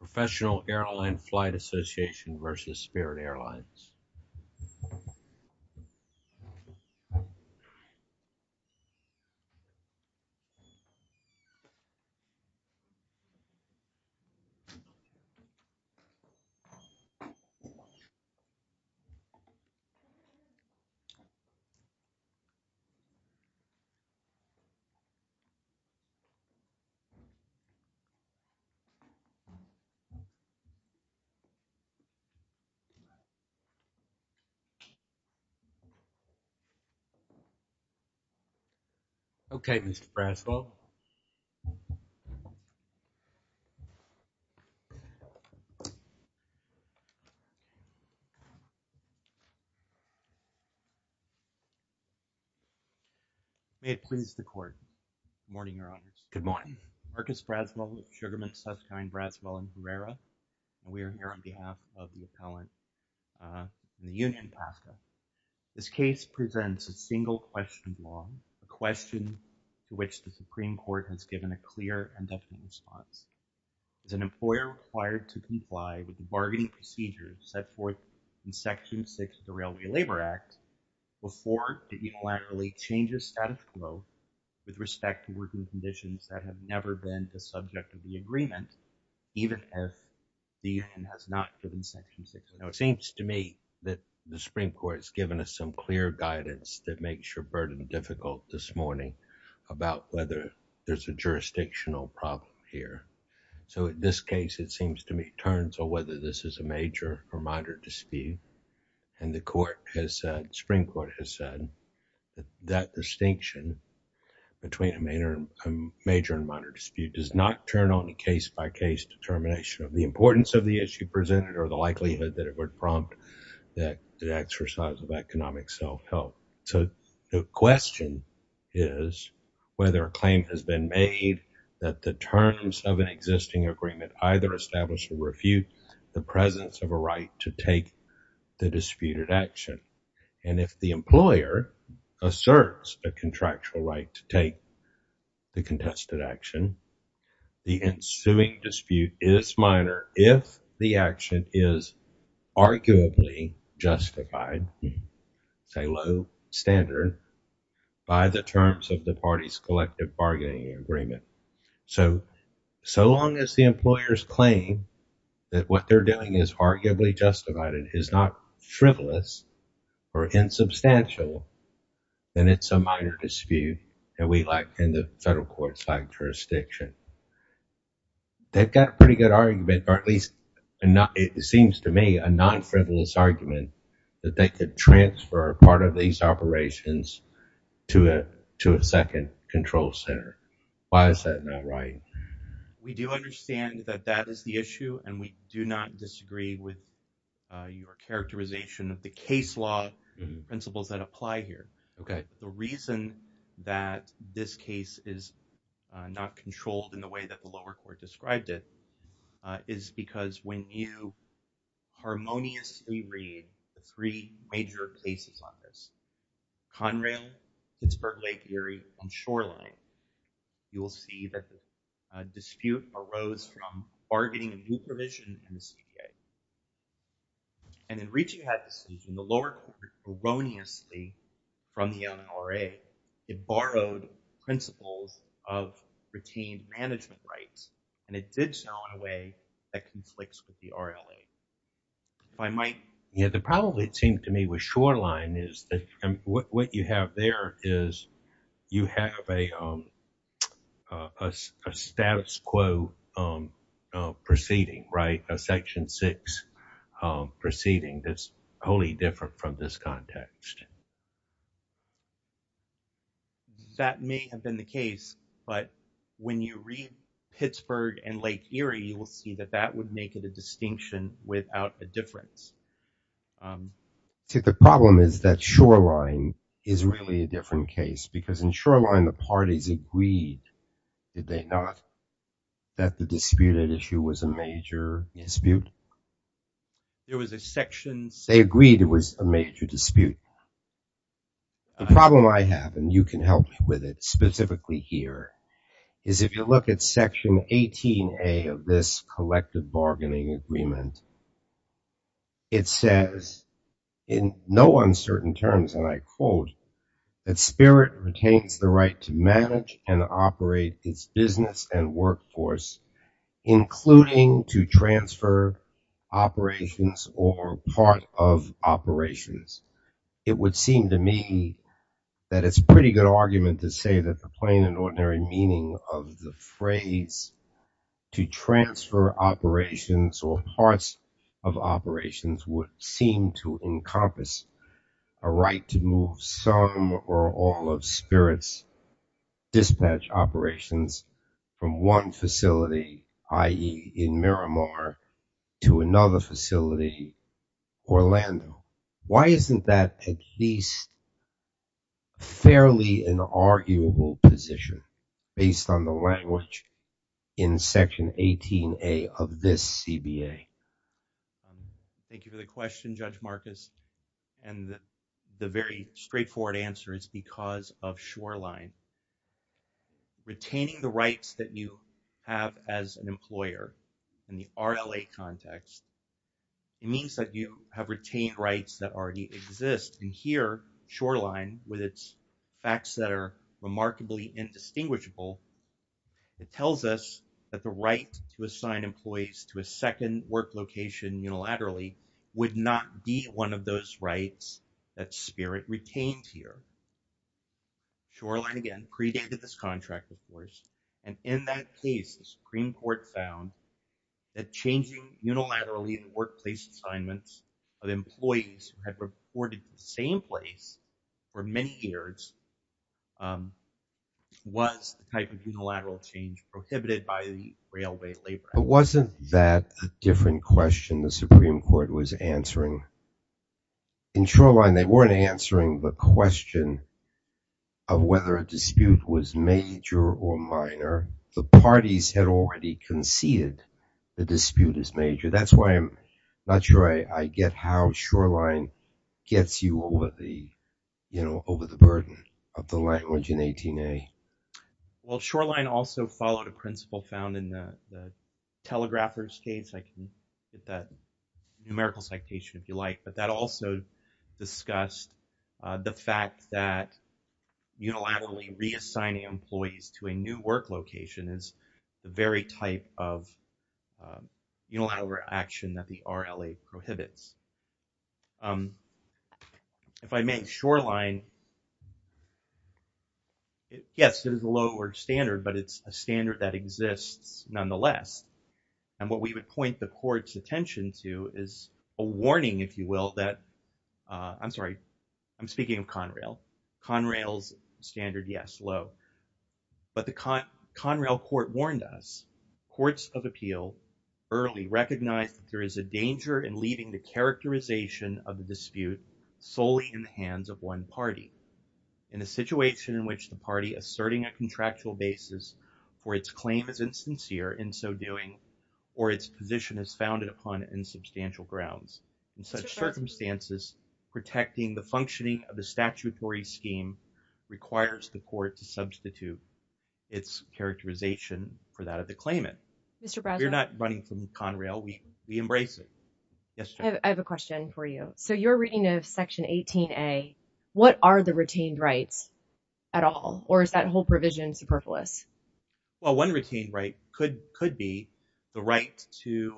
Professional Airline Flight Association v. Spirit Airlines Okay, Mr. Braswell. May it please the court. Good morning, Your Honor. Good morning. Marcus Braswell, Sugarman, Susskind, Braswell, and Herrera. We are here on behalf of the appellant from the Union, Pasco. This case presents a single-question law, a question to which the Supreme Court has given a clear and definite response. Is an employer required to comply with the bargaining procedures set forth in Section 6 of the Railway Labor Act before it unilaterally changes status quo with respect to working conditions that have never been the subject of the agreement, even if the Union has not given Section 6? It seems to me that the Supreme Court has given us some clear guidance that makes your burden difficult this morning about whether there's a jurisdictional problem here. So, in this case, it seems to me, in terms of whether this is a major or minor dispute, and the Supreme Court has said that distinction between a major and minor dispute does not turn on a case-by-case determination of the importance of the issue presented or the likelihood that it would prompt the exercise of economic self-help. So, the question is whether a claim has been made that the terms of an existing agreement either establish or refute the presence of a right to take the disputed action. And if the employer asserts a contractual right to take the contested action, the ensuing dispute is minor if the action is arguably justified, say low standard, by the terms of the party's collective bargaining agreement. So, so long as the employer's claim that what they're doing is arguably justified and is not frivolous or insubstantial, then it's a minor dispute that we lack in the federal court-side jurisdiction. They've got a pretty good argument, or at least, it seems to me, a non-frivolous argument that they could transfer part of these operations to a second control center. Why is that not right? We do understand that that is the issue, and we do not disagree with your characterization of the case law principles that apply here. Okay. The reason that this case is not controlled in the way that the lower court described it is because when you harmoniously read the three major cases on this, Conrail, Pittsburgh Lake Erie, and Shoreline, you will see that the dispute arose from bargaining a new provision in the CPA. And in reaching that decision, the lower court erroneously, from the NRA, it borrowed principles of retained management rights, and it did so in a way that conflicts with the RLA. If I might. Yeah, the problem, it seemed to me, with Shoreline is that what you have there is you have a status quo proceeding, right? A Section 6 proceeding that's wholly different from this context. That may have been the case, but when you read Pittsburgh and Lake Erie, you will see that that would make it a distinction without a difference. See, the problem is that Shoreline is really a different case, because in Shoreline, the parties agreed, did they not, that the disputed issue was a major dispute? There was a Section 6. They agreed it was a major dispute. The problem I have, and you can help me with it specifically here, is if you look at Section 18A of this collective bargaining agreement, it says in no uncertain terms, and I quote, that spirit retains the right to manage and operate its business and workforce, including to transfer operations or part of operations. It would seem to me that it's a pretty good argument to say that the plain and ordinary meaning of the phrase to transfer operations or parts of operations would seem to encompass a right to move some or all of spirit's dispatch operations from one facility, i.e. in Miramar, to another facility, Orlando. Why isn't that at least fairly an arguable position based on the language in Section 18A of this CBA? Thank you for the question, Judge Marcus, and the very straightforward answer is because of Shoreline. Retaining the rights that you have as an employer in the RLA context, it means that you have retained rights that already exist. And here, Shoreline, with its facts that are remarkably indistinguishable, it tells us that the right to assign employees to a second work location unilaterally would not be one of those rights that spirit retained here. Shoreline, again, predated this contract, of course, and in that case, the Supreme Court found that changing unilaterally in workplace assignments of employees who had reported to the same place for many years was the type of unilateral change prohibited by the Railway Labor Act. But wasn't that a different question the Supreme Court was answering? In Shoreline, they weren't answering the question of whether a dispute was major or minor. The parties had already conceded the dispute is major. That's why I'm not sure I get how Shoreline gets you over the burden of the language in 18A. Well, Shoreline also followed a principle found in the telegrapher's case. I can get that numerical citation if you like. But that also discussed the fact that unilaterally reassigning employees to a new work location is the very type of unilateral action that the RLA prohibits. If I make Shoreline, yes, it is a lower standard, but it's a standard that exists nonetheless. And what we would point the court's attention to is a warning, if you will, that I'm sorry, I'm speaking of Conrail. Conrail's standard, yes, low. But the Conrail court warned us, courts of appeal early recognized that there is a danger in leaving the characterization of the dispute solely in the hands of one party. In a situation in which the party asserting a contractual basis for its claim is insincere in so doing, or its position is founded upon insubstantial grounds. In such circumstances, protecting the functioning of the statutory scheme requires the court to substitute its characterization for that of the claimant. You're not running from Conrail. We embrace it. I have a question for you. So you're reading of Section 18A. What are the retained rights at all? Or is that whole provision superfluous? Well, one retained right could be the right to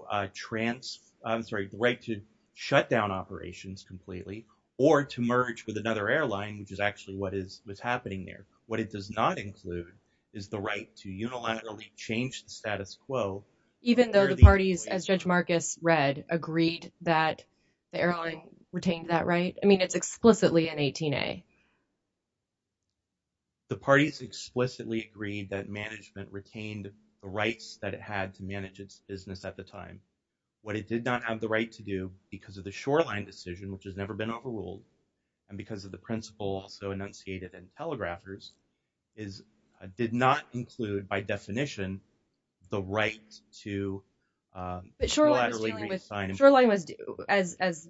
shut down operations completely or to merge with another airline, which is actually what is happening there. What it does not include is the right to unilaterally change the status quo. Even though the parties, as Judge Marcus read, agreed that the airline retained that right? I mean, it's explicitly in 18A. The parties explicitly agreed that management retained the rights that it had to manage its business at the time. What it did not have the right to do because of the Shoreline decision, which has never been overruled, and because of the principle also enunciated in Telegraphers, did not include, by definition, the right to unilaterally reassign. As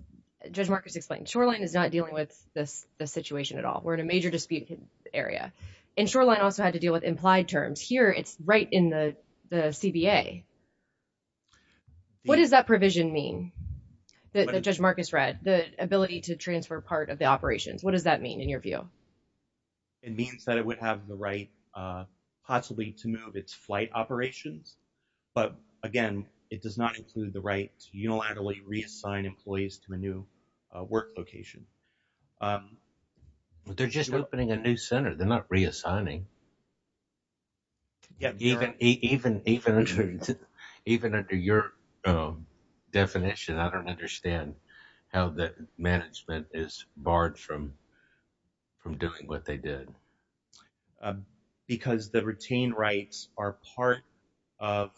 Judge Marcus explained, Shoreline is not dealing with this situation at all. We're in a major disputed area. And Shoreline also had to deal with implied terms. Here, it's right in the CBA. What does that provision mean that Judge Marcus read, the ability to transfer part of the operations? What does that mean in your view? It means that it would have the right, possibly, to move its flight operations. But, again, it does not include the right to unilaterally reassign employees to a new work location. They're just opening a new center. They're not reassigning. Even under your definition, I don't understand how the management is barred from doing what they did. Because the retained rights are part of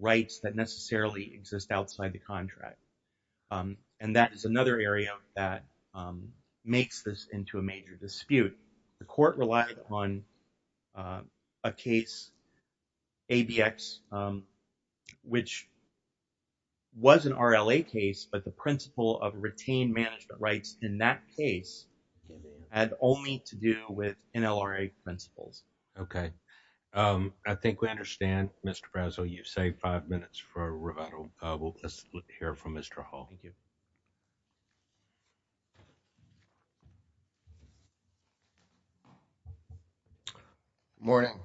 rights that necessarily exist outside the contract. And that is another area that makes this into a major dispute. The court relied on a case, ABX, which was an RLA case. But the principle of retained management rights in that case had only to do with NLRA principles. Okay. I think we understand, Mr. Brazzell. You've saved five minutes for Roberto. Thank you. Good morning.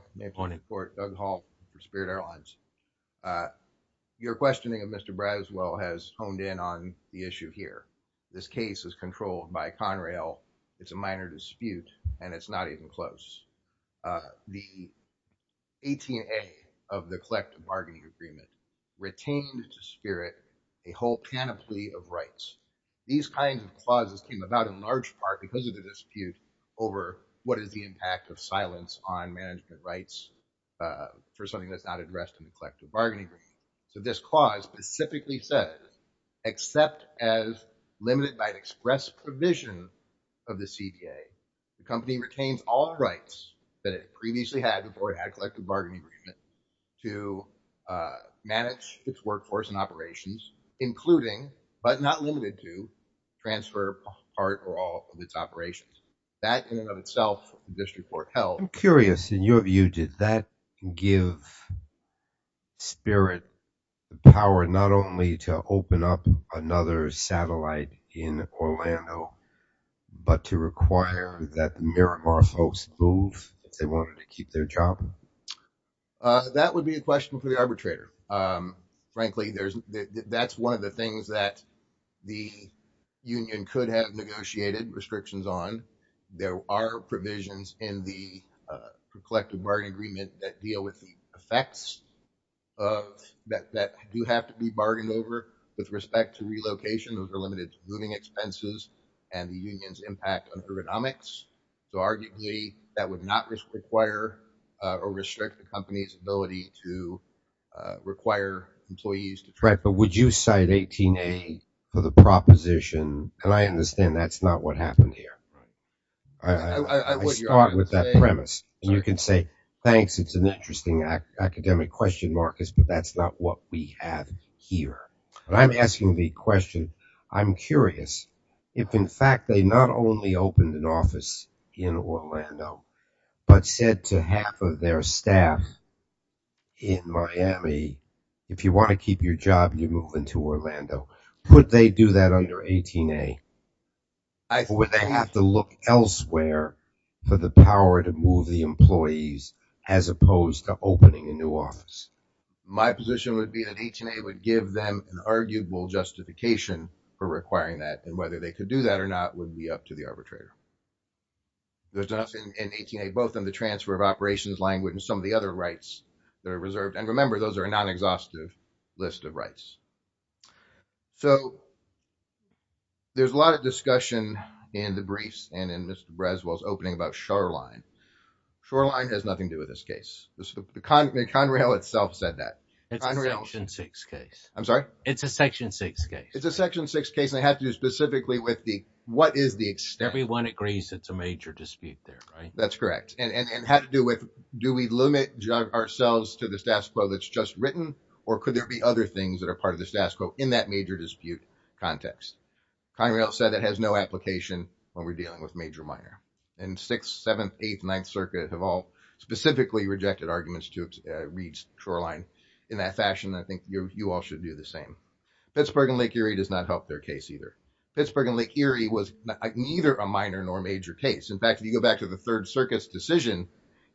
Doug Hall for Spirit Airlines. Your questioning of Mr. Brazzell has honed in on the issue here. This case is controlled by Conrail. It's a minor dispute, and it's not even close. The 18A of the collective bargaining agreement retained to Spirit a whole panoply of rights. These kinds of clauses came about in large part because of the dispute over what is the impact of silence on management rights for something that's not addressed in the collective bargaining agreement. So this clause specifically says, except as limited by express provision of the CDA, the company retains all rights that it previously had before it had collective bargaining agreement to manage its workforce and operations, including, but not limited to, transfer part or all of its operations. That, in and of itself, this report held. I'm curious, in your view, did that give Spirit the power not only to open up another satellite in Orlando, but to require that Miramar folks move if they wanted to keep their job? That would be a question for the arbitrator. Frankly, that's one of the things that the union could have negotiated restrictions on. There are provisions in the collective bargaining agreement that deal with the effects that do have to be bargained over with respect to relocation. Those are limited to moving expenses and the union's impact on ergonomics. So, arguably, that would not require or restrict the company's ability to require employees. Right, but would you cite 18A for the proposition? And I understand that's not what happened here. I start with that premise. And you can say, thanks, it's an interesting academic question, Marcus, but that's not what we have here. I'm asking the question, I'm curious if, in fact, they not only opened an office in Orlando, but said to half of their staff in Miami, if you want to keep your job, you move into Orlando. Would they do that under 18A? Or would they have to look elsewhere for the power to move the employees as opposed to opening a new office? My position would be that 18A would give them an arguable justification for requiring that. And whether they could do that or not would be up to the arbitrator. There's enough in 18A, both in the transfer of operations language and some of the other rights that are reserved. And remember, those are a non-exhaustive list of rights. So, there's a lot of discussion in the briefs and in Mr. Breswell's opening about Shoreline. Shoreline has nothing to do with this case. Conrail itself said that. It's a Section 6 case. I'm sorry? It's a Section 6 case. It's a Section 6 case, and it had to do specifically with the, what is the extent. Everyone agrees it's a major dispute there, right? That's correct. And had to do with, do we limit ourselves to the status quo that's just written? Or could there be other things that are part of the status quo in that major dispute context? Conrail said it has no application when we're dealing with major, minor. And 6th, 7th, 8th, 9th Circuit have all specifically rejected arguments to read Shoreline in that fashion. I think you all should do the same. Pittsburgh and Lake Erie does not help their case either. Pittsburgh and Lake Erie was neither a minor nor a major case. In fact, if you go back to the 3rd Circuit's decision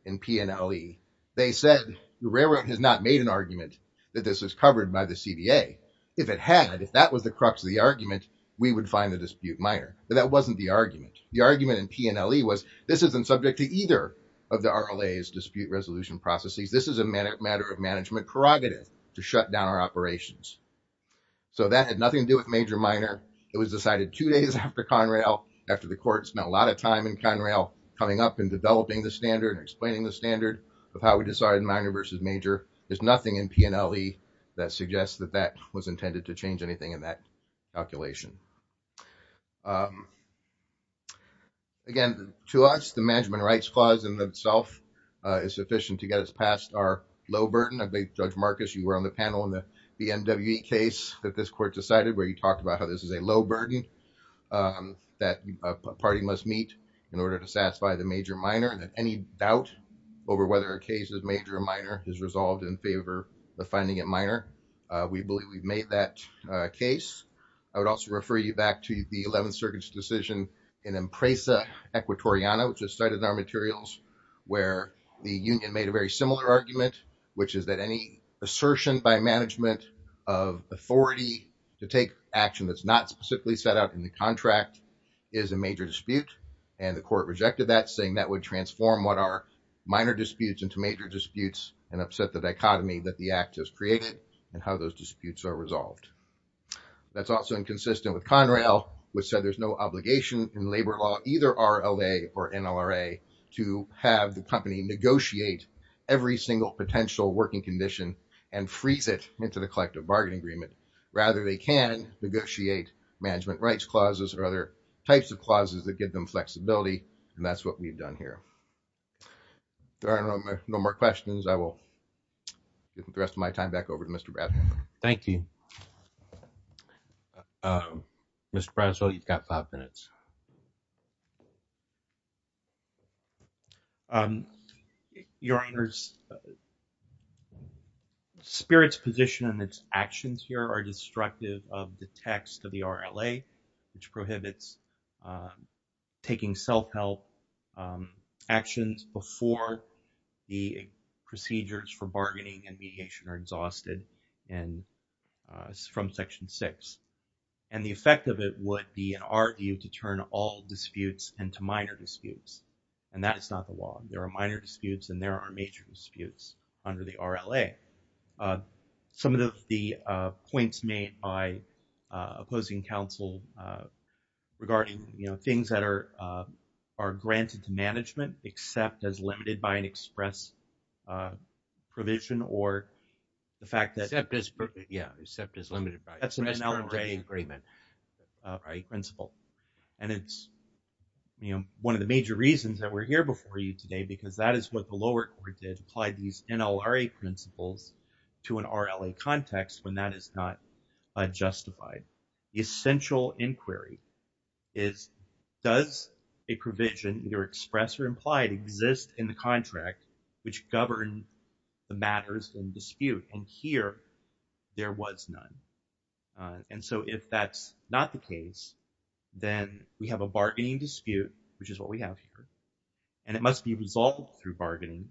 in PNLE, they said the railroad has not made an argument that this was covered by the CBA. If it had, if that was the crux of the argument, we would find the dispute minor. But that wasn't the argument. The argument in PNLE was this isn't subject to either of the RLA's dispute resolution processes. This is a matter of management prerogative to shut down our operations. So that had nothing to do with major, minor. It was decided two days after Conrail, after the court spent a lot of time in Conrail coming up and developing the standard and explaining the standard of how we decided minor versus major. There's nothing in PNLE that suggests that that was intended to change anything in that calculation. Again, to us, the management rights clause in itself is sufficient to get us past our low burden. Judge Marcus, you were on the panel in the NWE case that this court decided where you talked about how this is a low burden that a party must meet in order to satisfy the major minor. And that any doubt over whether a case is major or minor is resolved in favor of finding it minor. We believe we've made that case. I would also refer you back to the 11th Circuit's decision in Empresa Equatoriano, which is cited in our materials, where the union made a very similar argument, which is that any assertion by management of authority to take action that's not specifically set out in the contract is a major dispute. And the court rejected that, saying that would transform what are minor disputes into major disputes and upset the dichotomy that the act has created and how those disputes are resolved. That's also inconsistent with Conrail, which said there's no obligation in labor law, either RLA or NLRA, to have the company negotiate every single potential working condition and freeze it into the collective bargaining agreement. Rather, they can negotiate management rights clauses or other types of clauses that give them flexibility. And that's what we've done here. There are no more questions. I will give the rest of my time back over to Mr. Bradham. Thank you. Mr. Bradham, you've got five minutes. Your Honor, Spirit's position and its actions here are destructive of the text of the RLA, which prohibits taking self-help actions before the procedures for bargaining and mediation are exhausted from Section 6. And the effect of it would be an argue to turn all disputes into minor disputes. And that is not the law. There are minor disputes and there are major disputes under the RLA. Some of the points made by opposing counsel regarding things that are granted to management, except as limited by an express provision or the fact that... Except as limited by an express provision. That's an NLRA principle. And it's one of the major reasons that we're here before you today, because that is what the lower court did. Applied these NLRA principles to an RLA context when that is not justified. The essential inquiry is, does a provision, either express or implied, exist in the contract which govern the matters in dispute? And here, there was none. And so if that's not the case, then we have a bargaining dispute, which is what we have here. And it must be resolved through bargaining.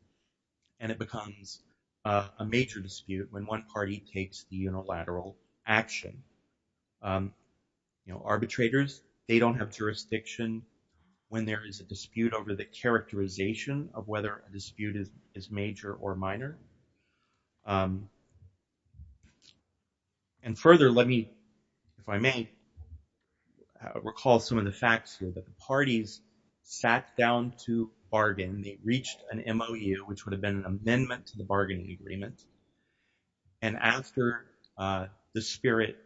And it becomes a major dispute when one party takes the unilateral action. Arbitrators, they don't have jurisdiction when there is a dispute over the characterization of whether a dispute is major or minor. And further, let me, if I may, recall some of the facts here that the parties sat down to bargain. They reached an MOU, which would have been an amendment to the bargaining agreement. And after the SPIRT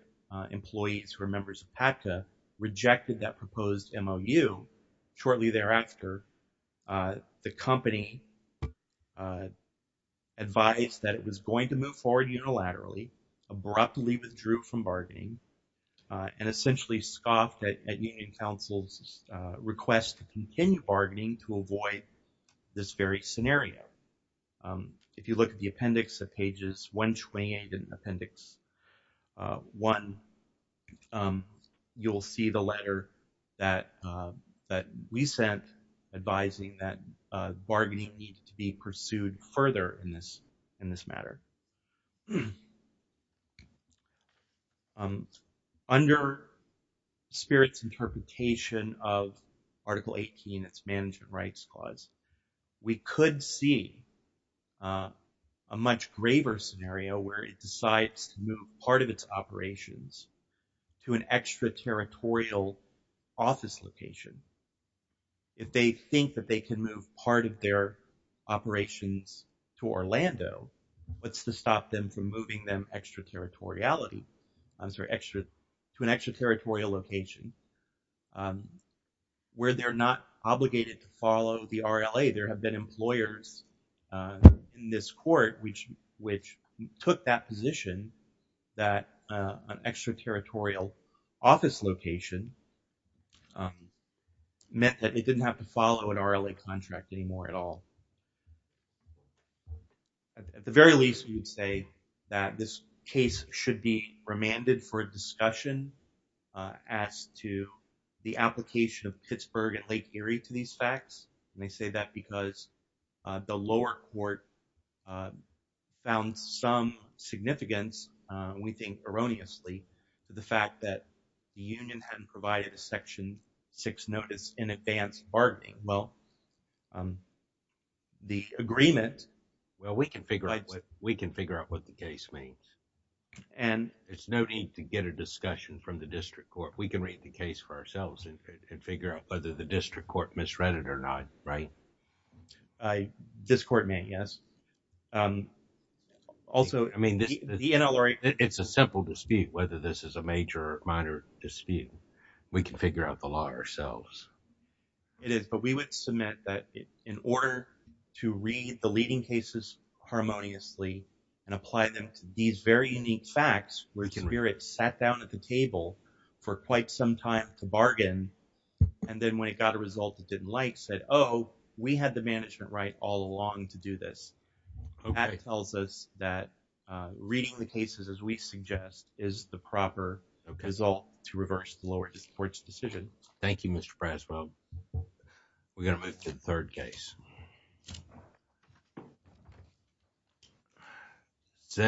employees who are members of PACTA rejected that proposed MOU, shortly thereafter, the company advised that it was going to move forward unilaterally, abruptly withdrew from bargaining, and essentially scoffed at Union Council's request to continue bargaining to avoid this very scenario. If you look at the appendix of pages 128 and appendix 1, you will see the letter that we sent advising that bargaining needs to be pursued further in this matter. Under SPIRT's interpretation of Article 18, its Management Rights Clause, we could see a much graver scenario where it decides to move part of its operations to an extraterritorial office location. If they think that they can move part of their operations to Orlando, what's to stop them from moving them extraterritoriality, sorry, to an extraterritorial location where they're not obligated to follow the RLA? There have been employers in this court which took that position that an extraterritorial office location meant that it didn't have to follow an RLA contract anymore at all. At the very least, we would say that this case should be remanded for discussion as to the application of Pittsburgh and Lake Erie to these facts. They say that because the lower court found some significance, we think erroneously, to the fact that the union hadn't provided a Section 6 notice in advance of bargaining. Well, the agreement… Well, we can figure out what the case means. And… There's no need to get a discussion from the district court. We can read the case for ourselves and figure out whether the district court misread it or not, right? This court may, yes. Also, I mean, the NLRA… It's a simple dispute whether this is a major or minor dispute. We can figure out the law ourselves. It is, but we would submit that in order to read the leading cases harmoniously and apply them to these very unique facts, we can hear it sat down at the table for quite some time to bargain. And then when it got a result it didn't like, said, oh, we had the management right all along to do this. That tells us that reading the cases as we suggest is the proper result to reverse the lower court's decision. Thank you, Mr. Praswell. We're going to move to the third case.